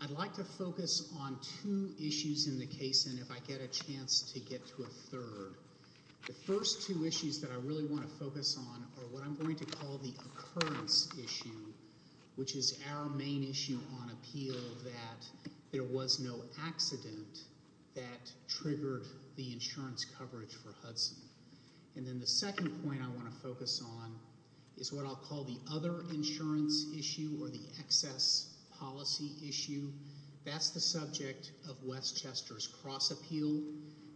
I'd like to focus on two issues in the case, and if I get a chance to get to a third. The first two issues that I really want to focus on are what I'm going to call the occurrence issue, which is our main issue on appeal that there was no accident that triggered the insurance coverage for Hudson. And then the second point I want to focus on is what I'll call the other insurance issue or the excess policy issue. That's the subject of Westchester's cross appeal,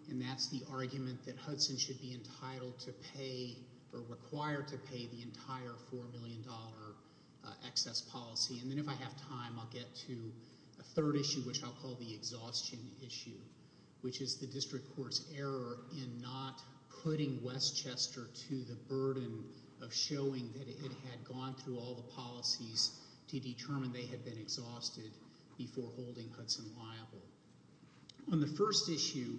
and that's the argument that Hudson should be entitled to pay or required to pay the entire $4 million excess policy. And then if I have time, I'll get to a third issue, which I'll call the exhaustion issue, which is the district court's error in not putting Westchester to the burden of showing that it had gone through all the policies to determine they had been exhausted before holding Hudson liable. On the first issue,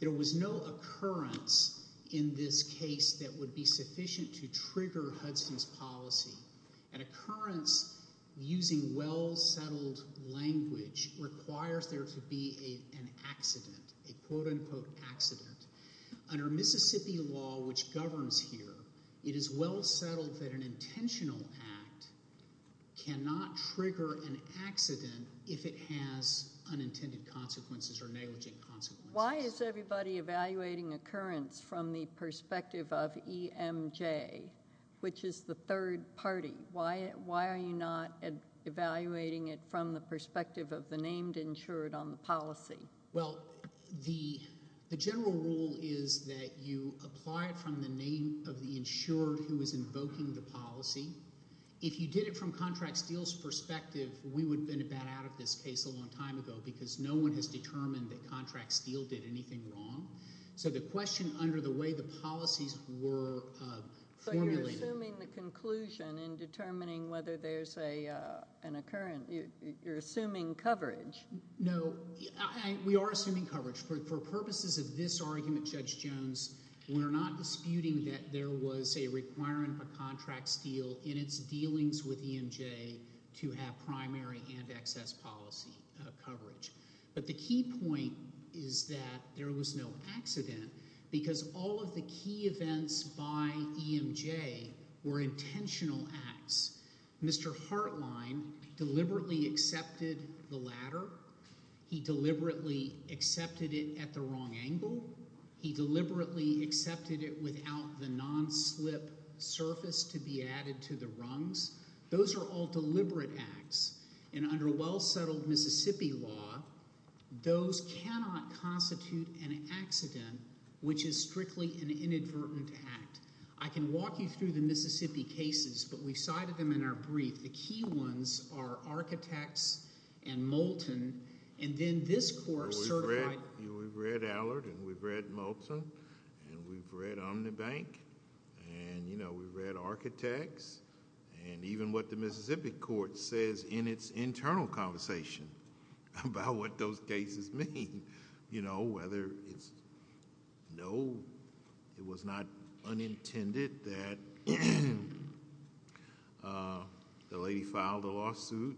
there was no occurrence in this case that would be sufficient to trigger Hudson's policy. An occurrence using well-settled language requires there to be an accident, a quote-unquote accident. Under Mississippi law, which governs here, it is well settled that an intentional act cannot trigger an accident if it has unintended consequences or negligent consequences. Why is everybody evaluating occurrence from the perspective of EMJ, which is the third party? Why are you not evaluating it from the perspective of the named insured on the policy? Well, the general rule is that you apply it from the name of the insured who is invoking the policy. If you did it from Contract Steele's perspective, we would have been about out of this case a long time ago because no one has determined that Contract Steele did anything wrong. So the question under the way the policies were formulated – So you're assuming the conclusion in determining whether there's an occurrence. You're assuming coverage. No, we are assuming coverage. For purposes of this argument, Judge Jones, we're not disputing that there was a requirement by Contract Steele in its dealings with EMJ to have primary and excess policy coverage. But the key point is that there was no accident because all of the key events by EMJ were intentional acts. Mr. Hartline deliberately accepted the ladder. He deliberately accepted it at the wrong angle. He deliberately accepted it without the non-slip surface to be added to the rungs. Those are all deliberate acts, and under well-settled Mississippi law, those cannot constitute an accident, which is strictly an inadvertent act. I can walk you through the Mississippi cases, but we've cited them in our brief. The key ones are Architects and Moulton, and then this court certified – We've read Allard, and we've read Moulton, and we've read OmniBank, and we've read Architects, and even what the Mississippi court says in its internal conversation about what those cases mean. Whether it's – no, it was not unintended that the lady filed a lawsuit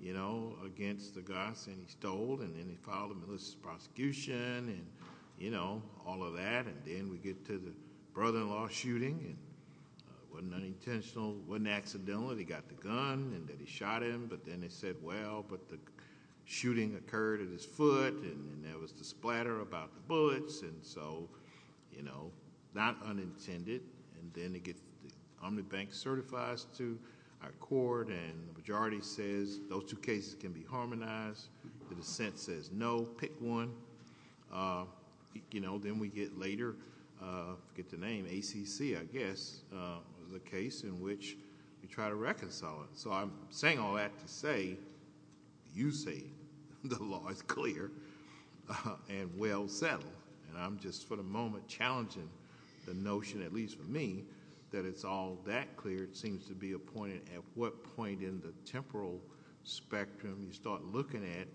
against the Goss, and he stole, and then he filed a malicious prosecution, and all of that. And then we get to the brother-in-law shooting, and it wasn't unintentional. It wasn't accidental. He got the gun, and then he shot him, but then they said, well, but the shooting occurred at his foot, and there was the splatter about the bullets, and so, you know, not unintended. And then they get – OmniBank certifies to our court, and the majority says those two cases can be harmonized. The dissent says no, pick one. Then we get later – I forget the name – ACC, I guess, the case in which we try to reconcile it. So I'm saying all that to say you say the law is clear and well settled, and I'm just for the moment challenging the notion, at least for me, that it's all that clear. It seems to be a point at what point in the temporal spectrum you start looking at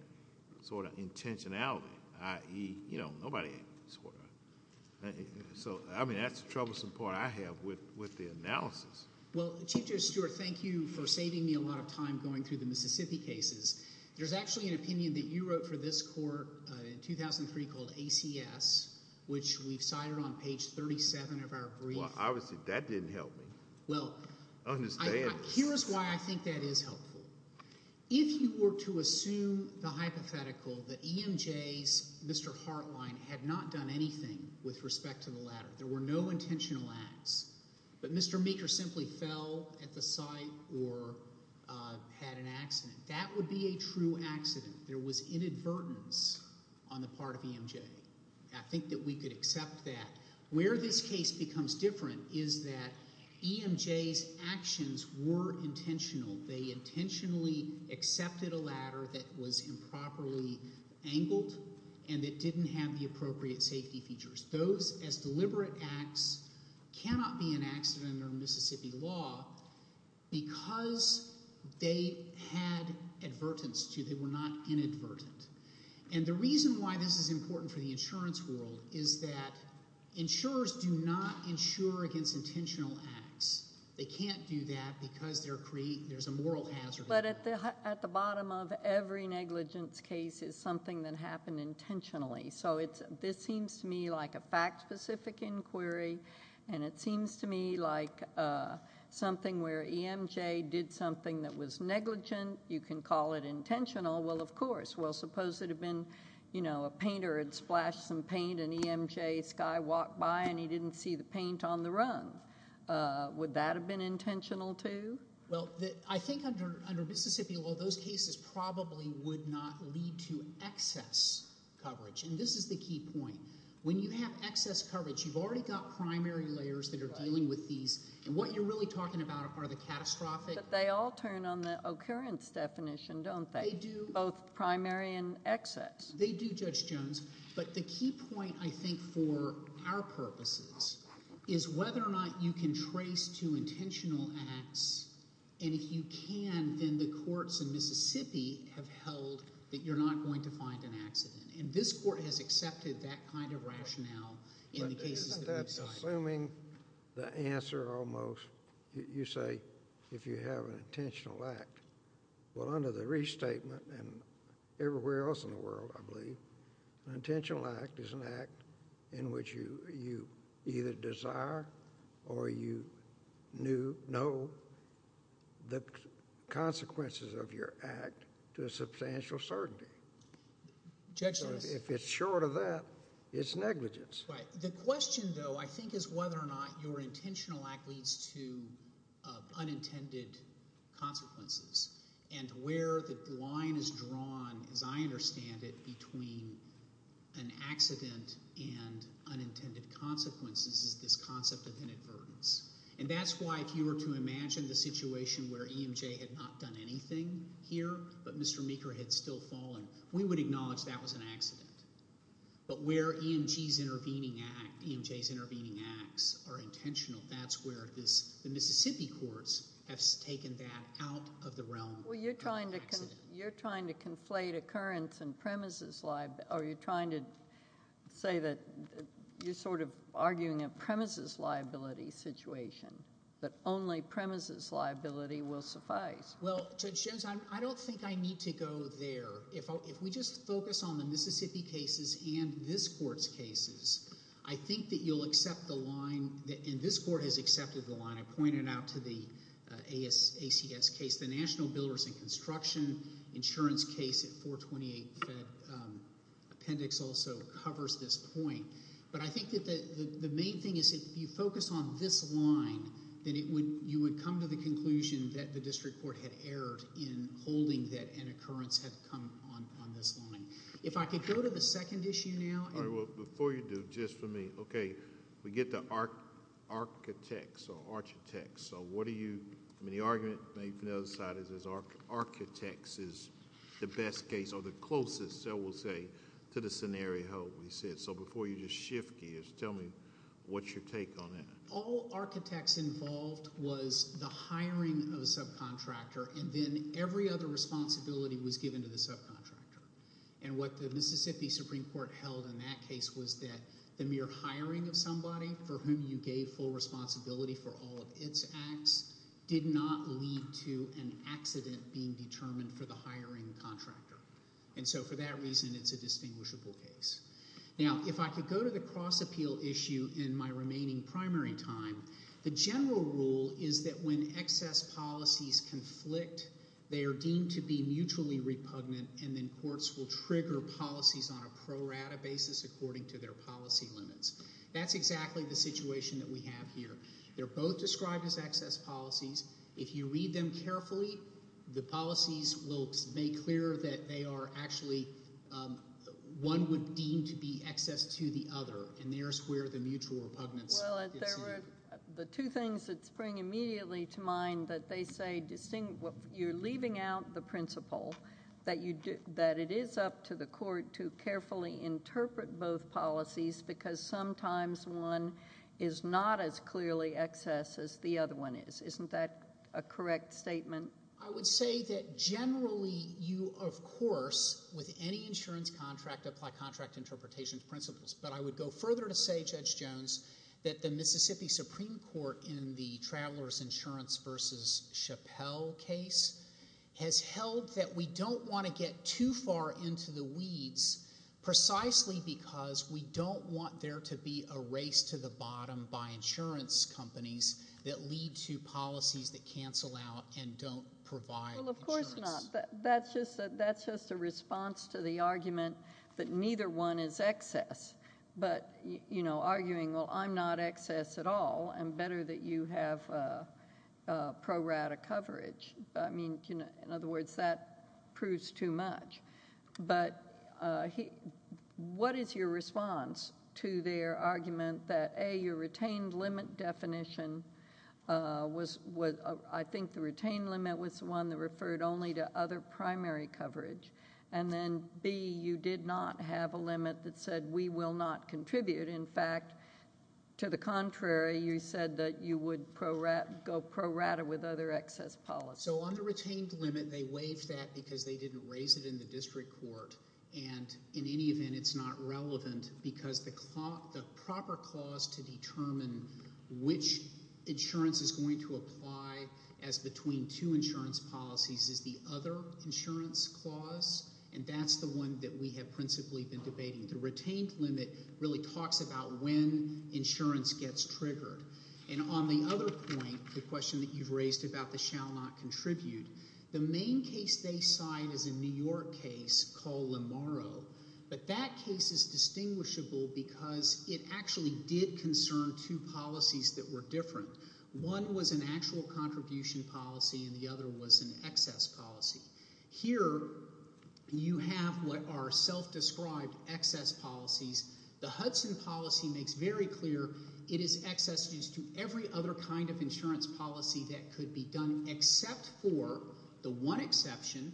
sort of intentionality, i.e., you know, nobody – so, I mean, that's the troublesome part I have with the analysis. Well, Chief Judge Stewart, thank you for saving me a lot of time going through the Mississippi cases. There's actually an opinion that you wrote for this court in 2003 called ACS, which we've cited on page 37 of our brief. Well, obviously that didn't help me. Well, here is why I think that is helpful. If you were to assume the hypothetical that EMJ's Mr. Hartline had not done anything with respect to the latter, there were no intentional acts, but Mr. Meeker simply fell at the site or had an accident, that would be a true accident. There was inadvertence on the part of EMJ. I think that we could accept that. Where this case becomes different is that EMJ's actions were intentional. They intentionally accepted a latter that was improperly angled and that didn't have the appropriate safety features. Those as deliberate acts cannot be an accident under Mississippi law because they had advertense to it. They were not inadvertent. The reason why this is important for the insurance world is that insurers do not insure against intentional acts. They can't do that because there's a moral hazard. But at the bottom of every negligence case is something that happened intentionally. So this seems to me like a fact-specific inquiry, and it seems to me like something where EMJ did something that was negligent. You can call it intentional. Well, of course. Well, suppose it had been a painter had splashed some paint and EMJ's guy walked by and he didn't see the paint on the run. Would that have been intentional, too? Well, I think under Mississippi law, those cases probably would not lead to excess coverage. And this is the key point. When you have excess coverage, you've already got primary layers that are dealing with these. And what you're really talking about are the catastrophic… But they all turn on the occurrence definition, don't they? Both primary and excess. They do, Judge Jones. But the key point, I think, for our purposes is whether or not you can trace to intentional acts. And if you can, then the courts in Mississippi have held that you're not going to find an accident. And this court has accepted that kind of rationale in the cases that we've cited. Assuming the answer almost, you say if you have an intentional act. Well, under the restatement and everywhere else in the world, I believe, an intentional act is an act in which you either desire or you know the consequences of your act to a substantial certainty. Judge Jones. If it's short of that, it's negligence. The question, though, I think, is whether or not your intentional act leads to unintended consequences. And where the line is drawn, as I understand it, between an accident and unintended consequences is this concept of inadvertence. And that's why if you were to imagine the situation where EMJ had not done anything here but Mr. Meeker had still fallen, we would acknowledge that was an accident. But where EMG's intervening act, EMJ's intervening acts are intentional, that's where the Mississippi courts have taken that out of the realm of an accident. Well, you're trying to conflate occurrence and premises liability. Are you trying to say that you're sort of arguing a premises liability situation, that only premises liability will suffice? Well, Judge Jones, I don't think I need to go there. If we just focus on the Mississippi cases and this court's cases, I think that you'll accept the line and this court has accepted the line. I pointed out to the ACS case, the National Builders and Construction Insurance case at 428 Fed Appendix also covers this point. But I think that the main thing is if you focus on this line, then you would come to the conclusion that the district court had erred in holding that an occurrence had come on this line. If I could go to the second issue now. All right. Well, before you do, just for me. Okay. We get to architects or architects. So what do you – I mean the argument made from the other side is architects is the best case or the closest, I will say, to the scenario we said. So before you just shift gears, tell me what's your take on that? All architects involved was the hiring of a subcontractor and then every other responsibility was given to the subcontractor. And what the Mississippi Supreme Court held in that case was that the mere hiring of somebody for whom you gave full responsibility for all of its acts did not lead to an accident being determined for the hiring contractor. And so for that reason, it's a distinguishable case. Now, if I could go to the cross-appeal issue in my remaining primary time, the general rule is that when excess policies conflict, they are deemed to be mutually repugnant and then courts will trigger policies on a pro rata basis according to their policy limits. That's exactly the situation that we have here. They're both described as excess policies. If you read them carefully, the policies will make clear that they are actually – one would deem to be excess to the other. And there's where the mutual repugnance – The two things that spring immediately to mind that they say – you're leaving out the principle that it is up to the court to carefully interpret both policies because sometimes one is not as clearly excess as the other one is. Isn't that a correct statement? I would say that generally you, of course, with any insurance contract, apply contract interpretation principles. But I would go further to say, Judge Jones, that the Mississippi Supreme Court in the Travelers Insurance v. Chappelle case has held that we don't want to get too far into the weeds precisely because we don't want there to be a race to the bottom by insurance companies that lead to policies that cancel out and don't provide insurance. Well, of course not. That's just a response to the argument that neither one is excess. But, you know, arguing, well, I'm not excess at all and better that you have pro rata coverage. I mean, in other words, that proves too much. But what is your response to their argument that, A, your retained limit definition was – I think the retained limit was the one that referred only to other primary coverage. And then, B, you did not have a limit that said we will not contribute. In fact, to the contrary, you said that you would go pro rata with other excess policies. So on the retained limit, they waived that because they didn't raise it in the district court. And in any event, it's not relevant because the proper clause to determine which insurance is going to apply as between two insurance policies is the other insurance clause. And that's the one that we have principally been debating. The retained limit really talks about when insurance gets triggered. And on the other point, the question that you've raised about the shall not contribute, the main case they cite is a New York case called Lamarro. But that case is distinguishable because it actually did concern two policies that were different. One was an actual contribution policy and the other was an excess policy. Here you have what are self-described excess policies. The Hudson policy makes very clear it is excess used to every other kind of insurance policy that could be done except for the one exception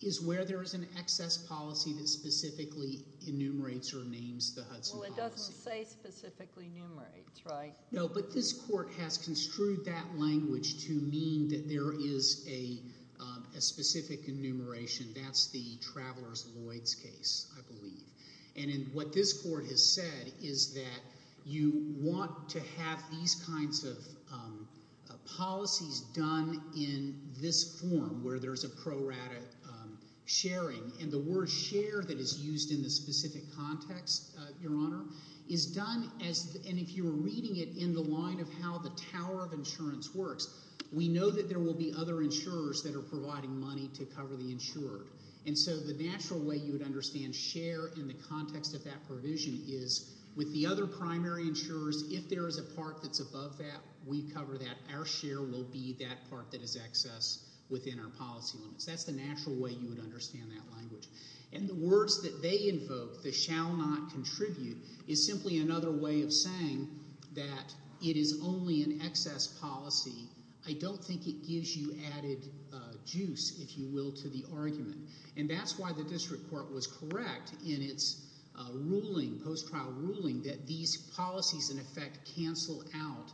is where there is an excess policy that specifically enumerates or names the Hudson policy. Well, it doesn't say specifically enumerates, right? No, but this court has construed that language to mean that there is a specific enumeration. That's the Travelers-Lloyds case, I believe. And what this court has said is that you want to have these kinds of policies done in this form where there's a pro rata sharing. And the word share that is used in this specific context, Your Honor, is done as – and if you were reading it in the line of how the tower of insurance works, we know that there will be other insurers that are providing money to cover the insured. And so the natural way you would understand share in the context of that provision is with the other primary insurers, if there is a part that's above that, we cover that. Our share will be that part that is excess within our policy limits. That's the natural way you would understand that language. And the words that they invoke, the shall not contribute, is simply another way of saying that it is only an excess policy. I don't think it gives you added juice, if you will, to the argument. And that's why the district court was correct in its ruling, post-trial ruling, that these policies, in effect, cancel out.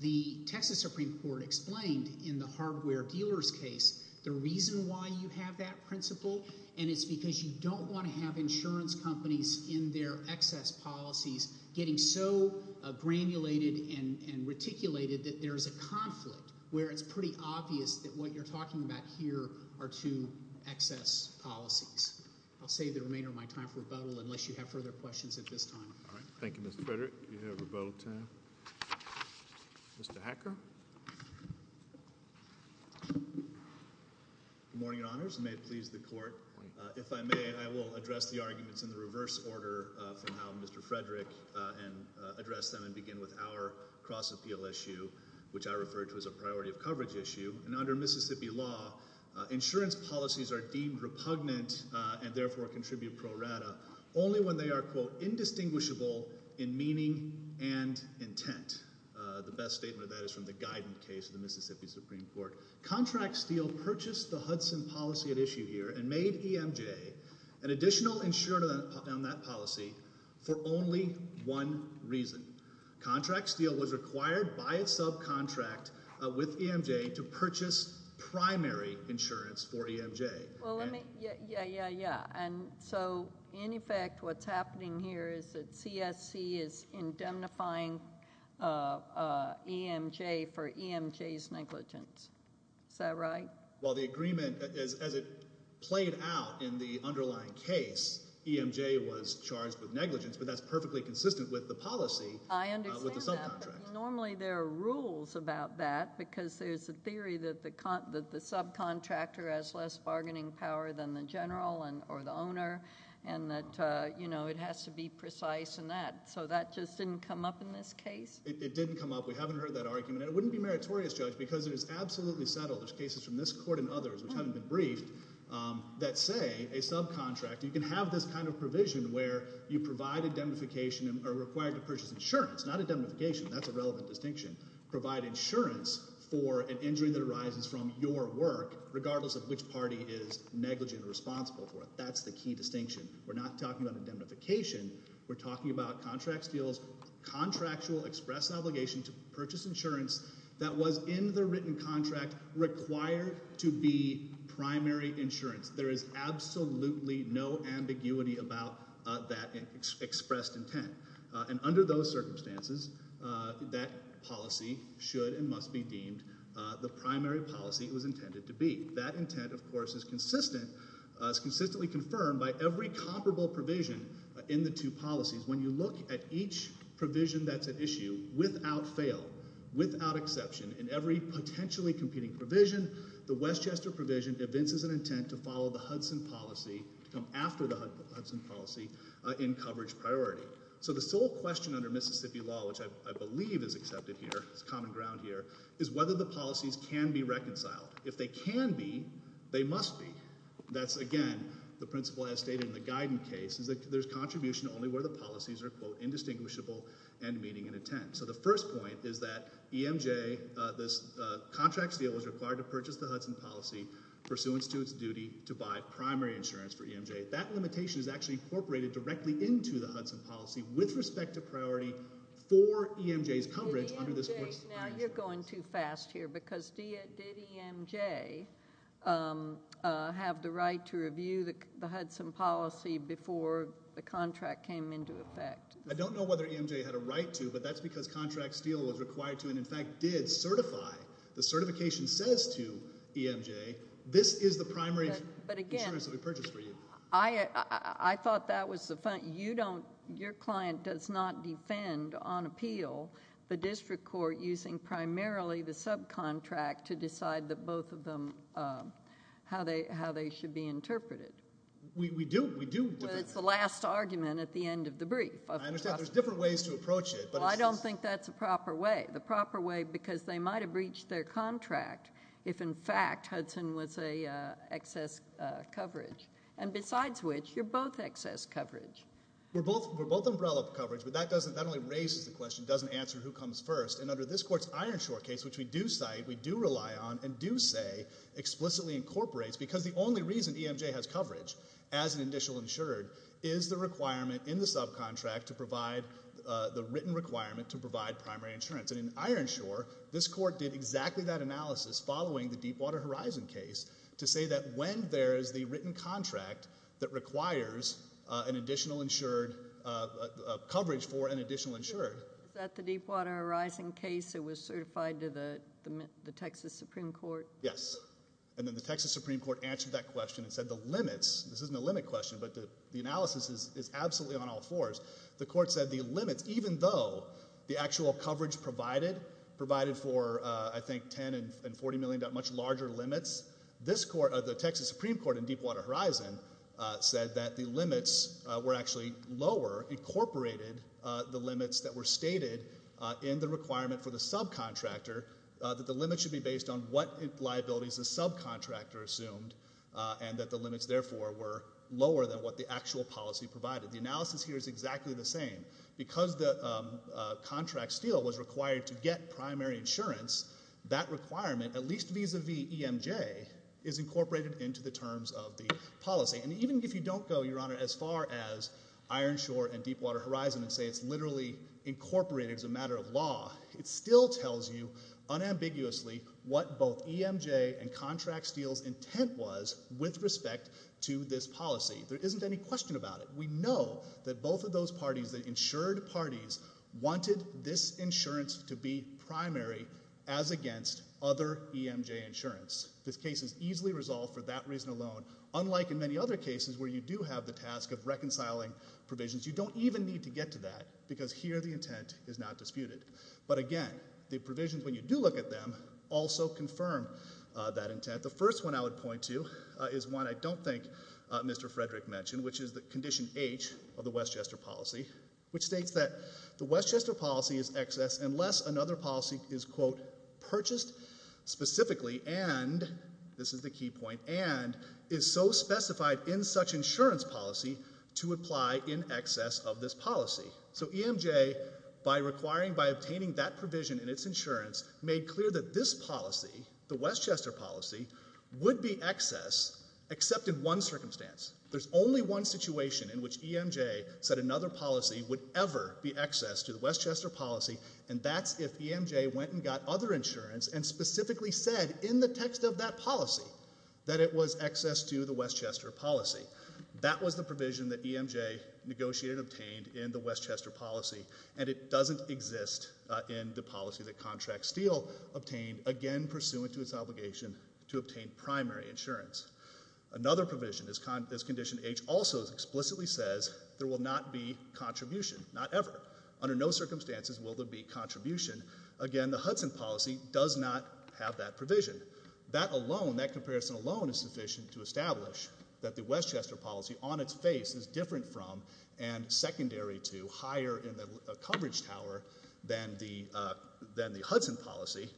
The Texas Supreme Court explained in the hardware dealer's case the reason why you have that principle, and it's because you don't want to have insurance companies in their excess policies getting so granulated and reticulated that there is a conflict where it's pretty obvious that what you're talking about here are two excess policies. I'll save the remainder of my time for rebuttal unless you have further questions at this time. All right. Thank you, Mr. Frederick. You have rebuttal time. Mr. Hacker? Good morning, Your Honors, and may it please the court. If I may, I will address the arguments in the reverse order from how Mr. Frederick addressed them and begin with our cross-appeal issue, which I refer to as a priority of coverage issue. And under Mississippi law, insurance policies are deemed repugnant and therefore contribute pro rata only when they are, quote, indistinguishable in meaning and intent. The best statement of that is from the guidance case of the Mississippi Supreme Court. Contract Steel purchased the Hudson policy at issue here and made EMJ an additional insurer on that policy for only one reason. Contract Steel was required by its subcontract with EMJ to purchase primary insurance for EMJ. Yeah, yeah, yeah. And so in effect what's happening here is that CSC is indemnifying EMJ for EMJ's negligence. Is that right? Well, the agreement, as it played out in the underlying case, EMJ was charged with negligence, but that's perfectly consistent with the policy with the subcontract. I understand that, but normally there are rules about that because there's a theory that the subcontractor has less bargaining power than the general or the owner and that, you know, it has to be precise and that. So that just didn't come up in this case? It didn't come up. We haven't heard that argument. It wouldn't be meritorious, Judge, because it is absolutely settled. There's cases from this court and others which haven't been briefed that say a subcontractor can have this kind of provision where you provide indemnification or are required to purchase insurance. Not indemnification. That's a relevant distinction. Provide insurance for an injury that arises from your work regardless of which party is negligent or responsible for it. That's the key distinction. We're not talking about indemnification. We're talking about contractual express obligation to purchase insurance that was in the written contract required to be primary insurance. There is absolutely no ambiguity about that expressed intent. And under those circumstances, that policy should and must be deemed the primary policy it was intended to be. That intent, of course, is consistently confirmed by every comparable provision in the two policies. When you look at each provision that's at issue, without fail, without exception, in every potentially competing provision, the Westchester provision evinces an intent to follow the Hudson policy to come after the Hudson policy in coverage priority. So the sole question under Mississippi law, which I believe is accepted here, it's common ground here, is whether the policies can be reconciled. If they can be, they must be. That's, again, the principle as stated in the Guidant case is that there's contribution only where the policies are, quote, indistinguishable, end meeting, and intent. So the first point is that EMJ, this contract seal is required to purchase the Hudson policy pursuant to its duty to buy primary insurance for EMJ. That limitation is actually incorporated directly into the Hudson policy with respect to priority for EMJ's coverage under this course of action. Now, you're going too fast here, because did EMJ have the right to review the Hudson policy before the contract came into effect? I don't know whether EMJ had a right to, but that's because contract seal was required to and, in fact, did certify. The certification says to EMJ, this is the primary insurance that we purchased for you. I thought that was the, you don't, your client does not defend on appeal the district court using primarily the subcontract to decide that both of them, how they should be interpreted. We do. But it's the last argument at the end of the brief. I understand. There's different ways to approach it. Well, I don't think that's the proper way. The proper way, because they might have reached their contract if, in fact, Hudson was a excess coverage. And besides which, you're both excess coverage. We're both umbrella coverage, but that doesn't, that only raises the question, doesn't answer who comes first. And under this court's iron short case, which we do cite, we do rely on, and do say explicitly incorporates, because the only reason EMJ has coverage as an additional insured is the requirement in the subcontract to provide the written requirement to provide primary insurance. And in iron short, this court did exactly that analysis following the Deepwater Horizon case to say that when there is the written contract that requires an additional insured, coverage for an additional insured. Is that the Deepwater Horizon case that was certified to the Texas Supreme Court? Yes. And then the Texas Supreme Court answered that question and said the limits, this isn't a limit question, but the analysis is absolutely on all fours. The court said the limits, even though the actual coverage provided, provided for I think 10 and 40 million, much larger limits, this court, the Texas Supreme Court in Deepwater Horizon, said that the limits were actually lower, incorporated the limits that were stated in the requirement for the subcontractor, that the limits should be based on what liabilities the subcontractor assumed, and that the limits, therefore, were lower than what the actual policy provided. The analysis here is exactly the same. Because the contract steal was required to get primary insurance, that requirement, at least vis-a-vis EMJ, is incorporated into the terms of the policy. And even if you don't go, Your Honor, as far as Ironshore and Deepwater Horizon and say it's literally incorporated as a matter of law, it still tells you unambiguously what both EMJ and contract steal's intent was with respect to this policy. There isn't any question about it. We know that both of those parties, the insured parties, wanted this insurance to be primary as against other EMJ insurance. This case is easily resolved for that reason alone, unlike in many other cases where you do have the task of reconciling provisions. You don't even need to get to that, because here the intent is not disputed. But again, the provisions, when you do look at them, also confirm that intent. The first one I would point to is one I don't think Mr. Frederick mentioned, which is the Condition H of the Westchester policy, which states that the Westchester policy is excess unless another policy is, quote, purchased specifically and, this is the key point, and is so specified in such insurance policy to apply in excess of this policy. So EMJ, by obtaining that provision in its insurance, made clear that this policy, the Westchester policy, would be excess except in one circumstance. There's only one situation in which EMJ said another policy would ever be excess to the Westchester policy, and that's if EMJ went and got other insurance and specifically said, in the text of that policy, that it was excess to the Westchester policy. That was the provision that EMJ negotiated and obtained in the Westchester policy, and it doesn't exist in the policy that Contract Steele obtained, again pursuant to its obligation to obtain primary insurance. Another provision is Condition H also explicitly says there will not be contribution, not ever. Under no circumstances will there be contribution. Again, the Hudson policy does not have that provision. That alone, that comparison alone is sufficient to establish that the Westchester policy on its face is different from and secondary to, higher in the coverage tower than the Hudson policy.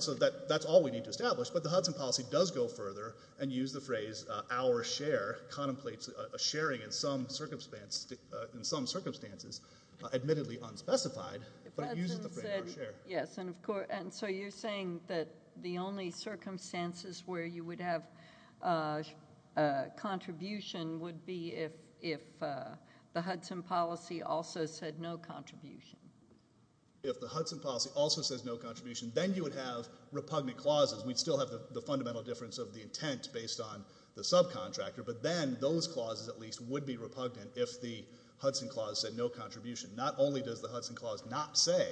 So that's all we need to establish, but the Hudson policy does go further and use the phrase, our share contemplates a sharing in some circumstances, admittedly unspecified, but it uses the phrase our share. Yes, and so you're saying that the only circumstances where you would have contribution would be if the Hudson policy also said no contribution. If the Hudson policy also says no contribution, then you would have repugnant clauses. We'd still have the fundamental difference of the intent based on the subcontractor, but then those clauses at least would be repugnant if the Hudson clause said no contribution. Not only does the Hudson clause not say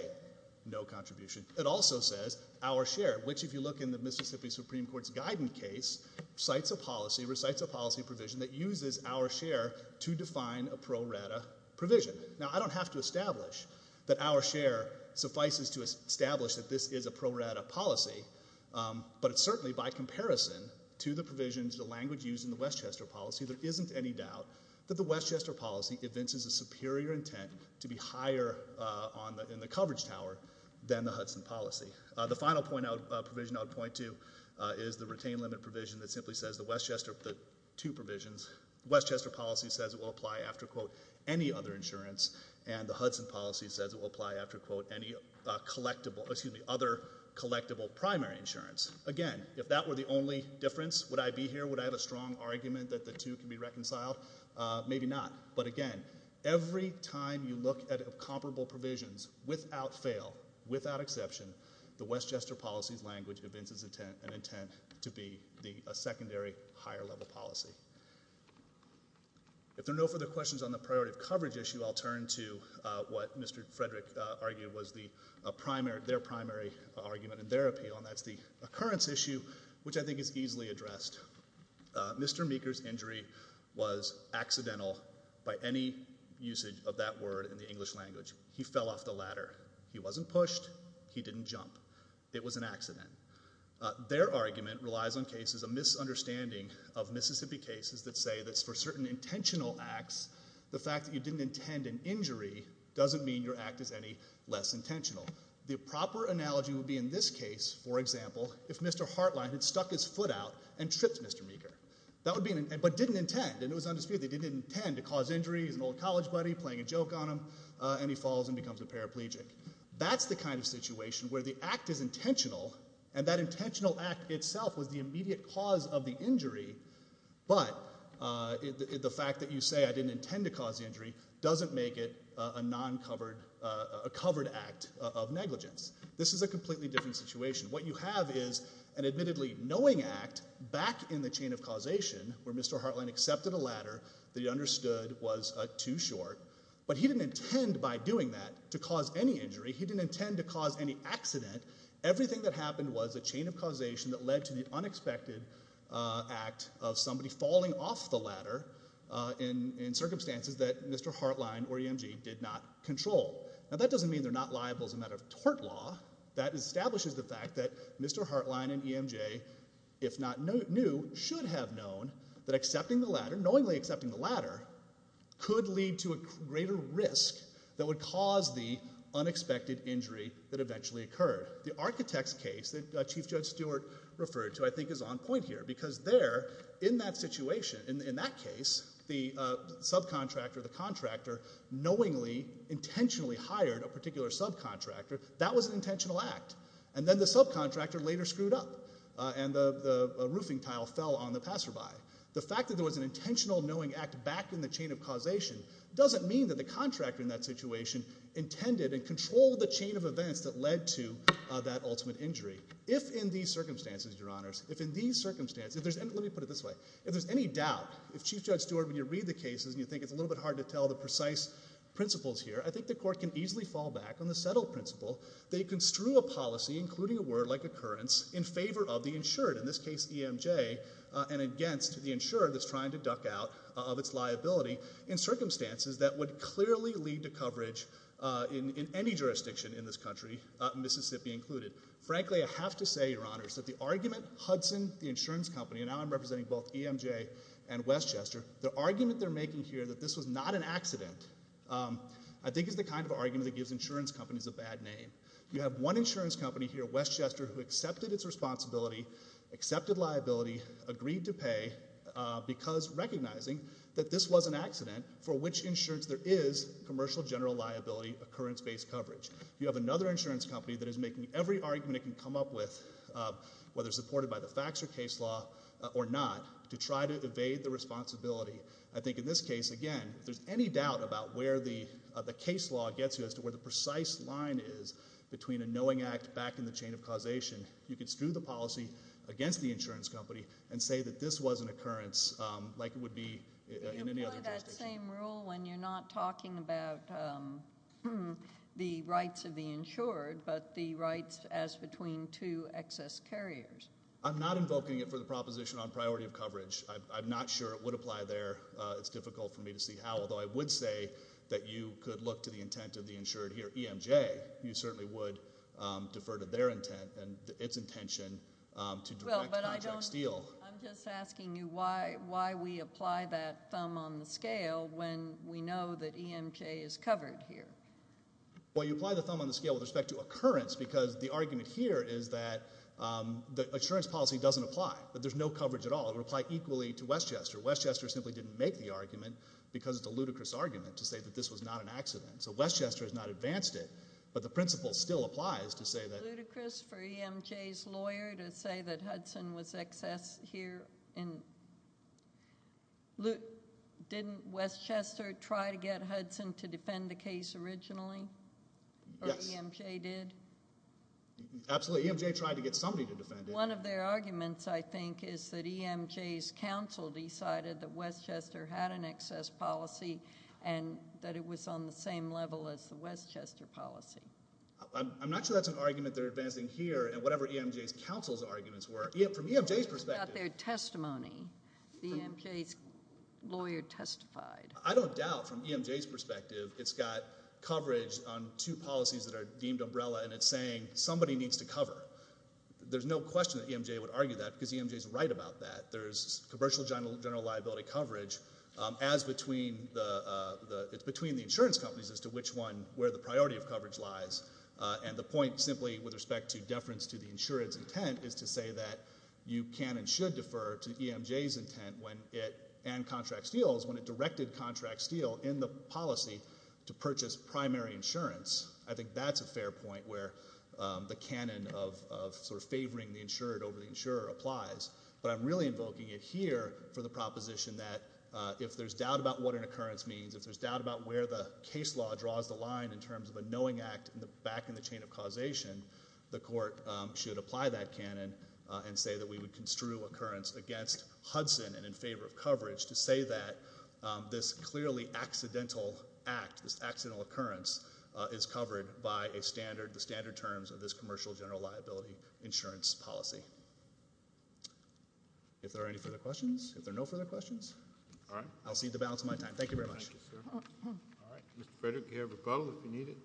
no contribution, it also says our share, which if you look in the Mississippi Supreme Court's guidance case, cites a policy, recites a policy provision that uses our share to define a pro rata provision. Now, I don't have to establish that our share suffices to establish that this is a pro rata policy, but it's certainly by comparison to the provisions, the language used in the Westchester policy, there isn't any doubt that the Westchester policy evinces a superior intent to be higher in the coverage tower than the Hudson policy. The final provision I would point to is the retained limit provision that simply says the Westchester, the two provisions, Westchester policy says it will apply after, quote, any other insurance, and the Hudson policy says it will apply after, quote, any collectible, excuse me, other collectible primary insurance. Again, if that were the only difference, would I be here? Would I have a strong argument that the two can be reconciled? Maybe not, but again, every time you look at comparable provisions without fail, without exception, the Westchester policy's language evinces an intent to be a secondary higher level policy. If there are no further questions on the priority of coverage issue, I'll turn to what Mr. Frederick argued was their primary argument and their appeal, and that's the occurrence issue, which I think is easily addressed. Mr. Meeker's injury was accidental by any usage of that word in the English language. He fell off the ladder. He wasn't pushed. He didn't jump. It was an accident. Their argument relies on cases, a misunderstanding of Mississippi cases that say that for certain intentional acts, the fact that you didn't intend an injury doesn't mean your act is any less intentional. The proper analogy would be in this case, for example, if Mr. Hartline had stuck his foot out and tripped Mr. Meeker, but didn't intend, and it was undisputed that he didn't intend to cause injury. He's an old college buddy playing a joke on him, and he falls and becomes a paraplegic. That's the kind of situation where the act is intentional, and that intentional act itself was the immediate cause of the injury, but the fact that you say I didn't intend to cause the injury doesn't make it a covered act of negligence. This is a completely different situation. What you have is an admittedly knowing act back in the chain of causation where Mr. Hartline accepted a ladder that he understood was too short, but he didn't intend by doing that to cause any injury. He didn't intend to cause any accident. Everything that happened was a chain of causation that led to the unexpected act of somebody falling off the ladder in circumstances that Mr. Hartline or EMJ did not control. Now, that doesn't mean they're not liable as a matter of tort law. That establishes the fact that Mr. Hartline and EMJ, if not knew, should have known that accepting the ladder, knowingly accepting the ladder, could lead to a greater risk that would cause the unexpected injury that eventually occurred. The architect's case that Chief Judge Stewart referred to, I think, is on point here because there, in that situation, in that case, the subcontractor, the contractor, knowingly, intentionally hired a particular subcontractor. That was an intentional act. And then the subcontractor later screwed up, and the roofing tile fell on the passerby. The fact that there was an intentional knowing act back in the chain of causation doesn't mean that the contractor in that situation intended and controlled the chain of events that led to that ultimate injury. If in these circumstances, Your Honors, if in these circumstances, if there's any— let me put it this way. If there's any doubt, if Chief Judge Stewart, when you read the cases, and you think it's a little bit hard to tell the precise principles here, I think the Court can easily fall back on the settled principle that you construe a policy, including a word like occurrence, in favor of the insured, in this case EMJ, and against the insured that's trying to duck out of its liability in circumstances that would clearly lead to coverage in any jurisdiction in this country, Mississippi included. Frankly, I have to say, Your Honors, that the argument Hudson, the insurance company, and now I'm representing both EMJ and Westchester, the argument they're making here that this was not an accident I think is the kind of argument that gives insurance companies a bad name. You have one insurance company here, Westchester, who accepted its responsibility, accepted liability, agreed to pay because recognizing that this was an accident for which insurance there is commercial general liability occurrence-based coverage. You have another insurance company that is making every argument it can come up with, whether supported by the facts or case law or not, to try to evade the responsibility. I think in this case, again, if there's any doubt about where the case law gets you as to where the precise line is between a knowing act back in the chain of causation, you can screw the policy against the insurance company and say that this was an occurrence like it would be in any other jurisdiction. You employ that same rule when you're not talking about the rights of the insured but the rights as between two excess carriers. I'm not invoking it for the proposition on priority of coverage. I'm not sure it would apply there. It's difficult for me to see how, although I would say that you could look to the intent of the insured here, EMJ. You certainly would defer to their intent and its intention to direct Project Steele. I'm just asking you why we apply that thumb on the scale when we know that EMJ is covered here. Well, you apply the thumb on the scale with respect to occurrence because the argument here is that the insurance policy doesn't apply, that there's no coverage at all. It would apply equally to Westchester. Westchester simply didn't make the argument because it's a ludicrous argument to say that this was not an accident. So Westchester has not advanced it, but the principle still applies to say that— Ludicrous for EMJ's lawyer to say that Hudson was excess here. Didn't Westchester try to get Hudson to defend the case originally? Yes. Or EMJ did? Absolutely. EMJ tried to get somebody to defend it. One of their arguments, I think, is that EMJ's counsel decided that Westchester had an excess policy and that it was on the same level as the Westchester policy. I'm not sure that's an argument they're advancing here. Whatever EMJ's counsel's arguments were, from EMJ's perspective— From their testimony, the EMJ's lawyer testified. I don't doubt, from EMJ's perspective, it's got coverage on two policies that are deemed umbrella and it's saying somebody needs to cover. There's no question that EMJ would argue that because EMJ's right about that. There's commercial general liability coverage as between the insurance companies as to which one where the priority of coverage lies. And the point simply with respect to deference to the insurance intent is to say that you can and should defer to EMJ's intent and Contract Steele's when it directed Contract Steele in the policy to purchase primary insurance. I think that's a fair point where the canon of favoring the insured over the insurer applies. But I'm really invoking it here for the proposition that if there's doubt about what an occurrence means, if there's doubt about where the case law draws the line in terms of a knowing act back in the chain of causation, the court should apply that canon and say that we would construe occurrence against Hudson and in favor of coverage to say that this clearly accidental act, this accidental occurrence, is covered by the standard terms of this commercial general liability insurance policy. If there are any further questions? If there are no further questions? All right. I'll cede the balance of my time. Thank you very much. Mr. Frederick, you have a bottle if you need it?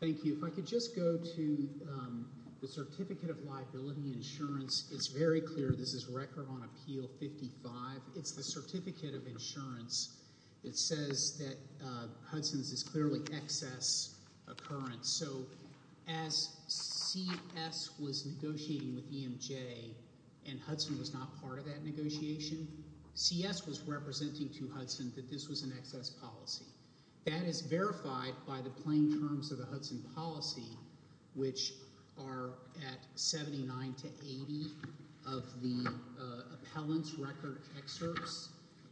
Thank you. If I could just go to the Certificate of Liability Insurance. It's very clear this is Record on Appeal 55. It's the Certificate of Insurance that says that Hudson's is clearly excess occurrence. So as CS was negotiating with EMJ and Hudson was not part of that negotiation, CS was representing to Hudson that this was an excess policy. That is verified by the plain terms of the Hudson policy, which are at 79 to 80 of the appellant's record excerpts.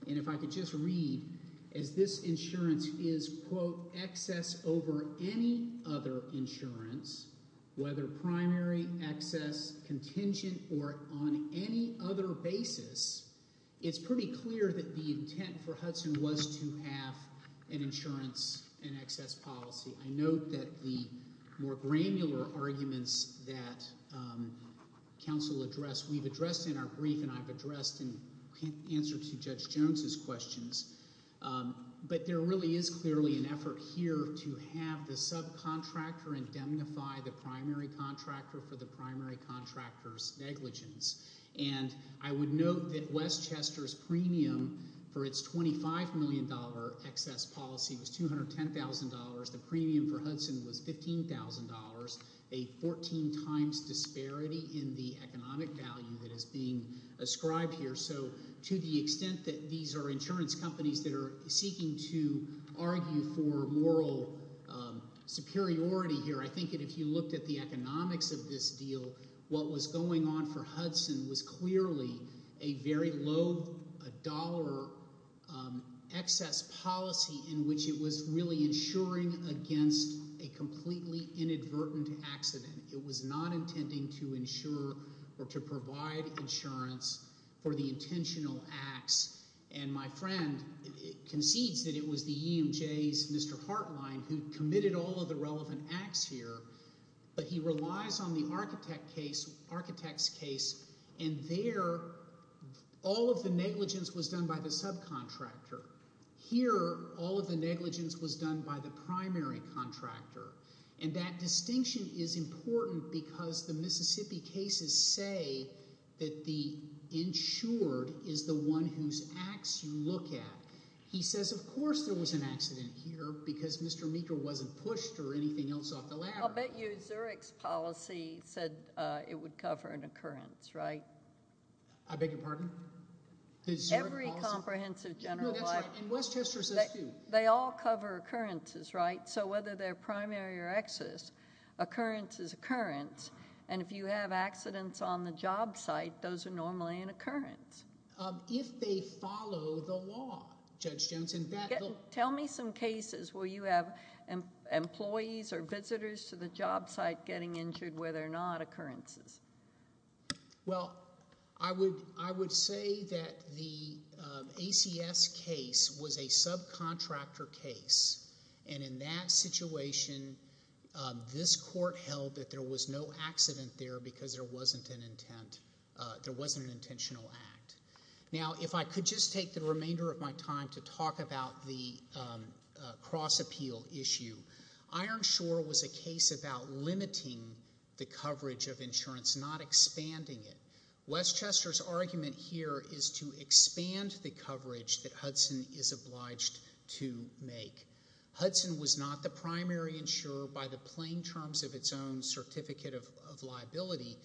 And if I could just read, as this insurance is, quote, excess over any other insurance, whether primary, excess, contingent, or on any other basis, it's pretty clear that the intent for Hudson was to have an insurance in excess policy. I note that the more granular arguments that counsel addressed, we've addressed in our brief and I've addressed in answer to Judge Jones's questions. But there really is clearly an effort here to have the subcontractor indemnify the primary contractor for the primary contractor's negligence. And I would note that Westchester's premium for its $25 million excess policy was $210,000. The premium for Hudson was $15,000, a 14 times disparity in the economic value that is being ascribed here. So to the extent that these are insurance companies that are seeking to argue for moral superiority here, I think that if you looked at the economics of this deal, what was going on for Hudson was clearly a very low dollar excess policy in which it was really insuring against a completely inadvertent accident. It was not intending to insure or to provide insurance for the intentional acts. And my friend concedes that it was the EMJ's Mr. Hartline who committed all of the relevant acts here, but he relies on the architect's case, and there all of the negligence was done by the subcontractor. Here all of the negligence was done by the primary contractor, and that distinction is important because the Mississippi cases say that the insured is the one whose acts you look at. He says, of course, there was an accident here because Mr. Meeker wasn't pushed or anything else off the ladder. I'll bet you Zurich's policy said it would cover an occurrence, right? I beg your pardon? Every comprehensive general policy. No, that's right, and Westchester says too. They all cover occurrences, right? So whether they're primary or excess, occurrence is occurrence, and if you have accidents on the job site, those are normally an occurrence. If they follow the law, Judge Jones. Tell me some cases where you have employees or visitors to the job site getting injured where they're not occurrences. Well, I would say that the ACS case was a subcontractor case, and in that situation this court held that there was no accident there because there wasn't an intent. There wasn't an intentional act. Now, if I could just take the remainder of my time to talk about the cross-appeal issue, Ironshore was a case about limiting the coverage of insurance, not expanding it. Westchester's argument here is to expand the coverage that Hudson is obliged to make. Hudson was not the primary insurer by the plain terms of its own certificate of liability,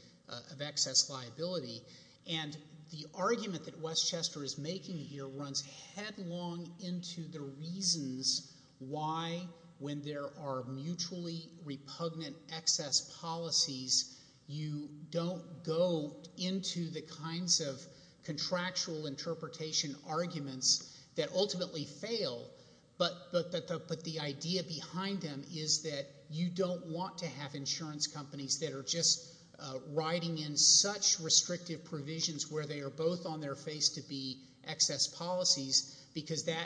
of excess liability, and the argument that Westchester is making here runs headlong into the reasons why when there are mutually repugnant excess policies, you don't go into the kinds of contractual interpretation arguments that ultimately fail, but the idea behind them is that you don't want to have insurance companies that are just writing in such restrictive provisions where they are both on their face to be excess policies because that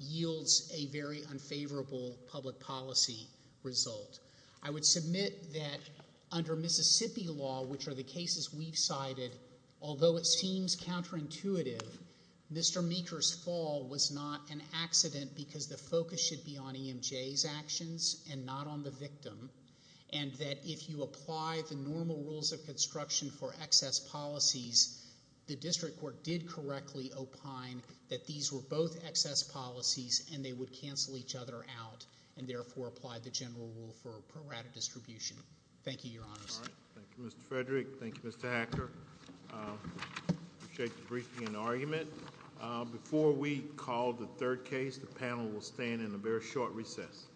yields a very unfavorable public policy result. I would submit that under Mississippi law, which are the cases we've cited, although it seems counterintuitive, Mr. Meeker's fall was not an accident because the focus should be on EMJ's actions and not on the victim, and that if you apply the normal rules of construction for excess policies, the district court did correctly opine that these were both excess policies and they would cancel each other out and therefore apply the general rule for prorate distribution. Thank you, Your Honors. Thank you, Mr. Frederick. Thank you, Mr. Hacker. I appreciate the briefing and argument. Before we call the third case, the panel will stand in a very short recess.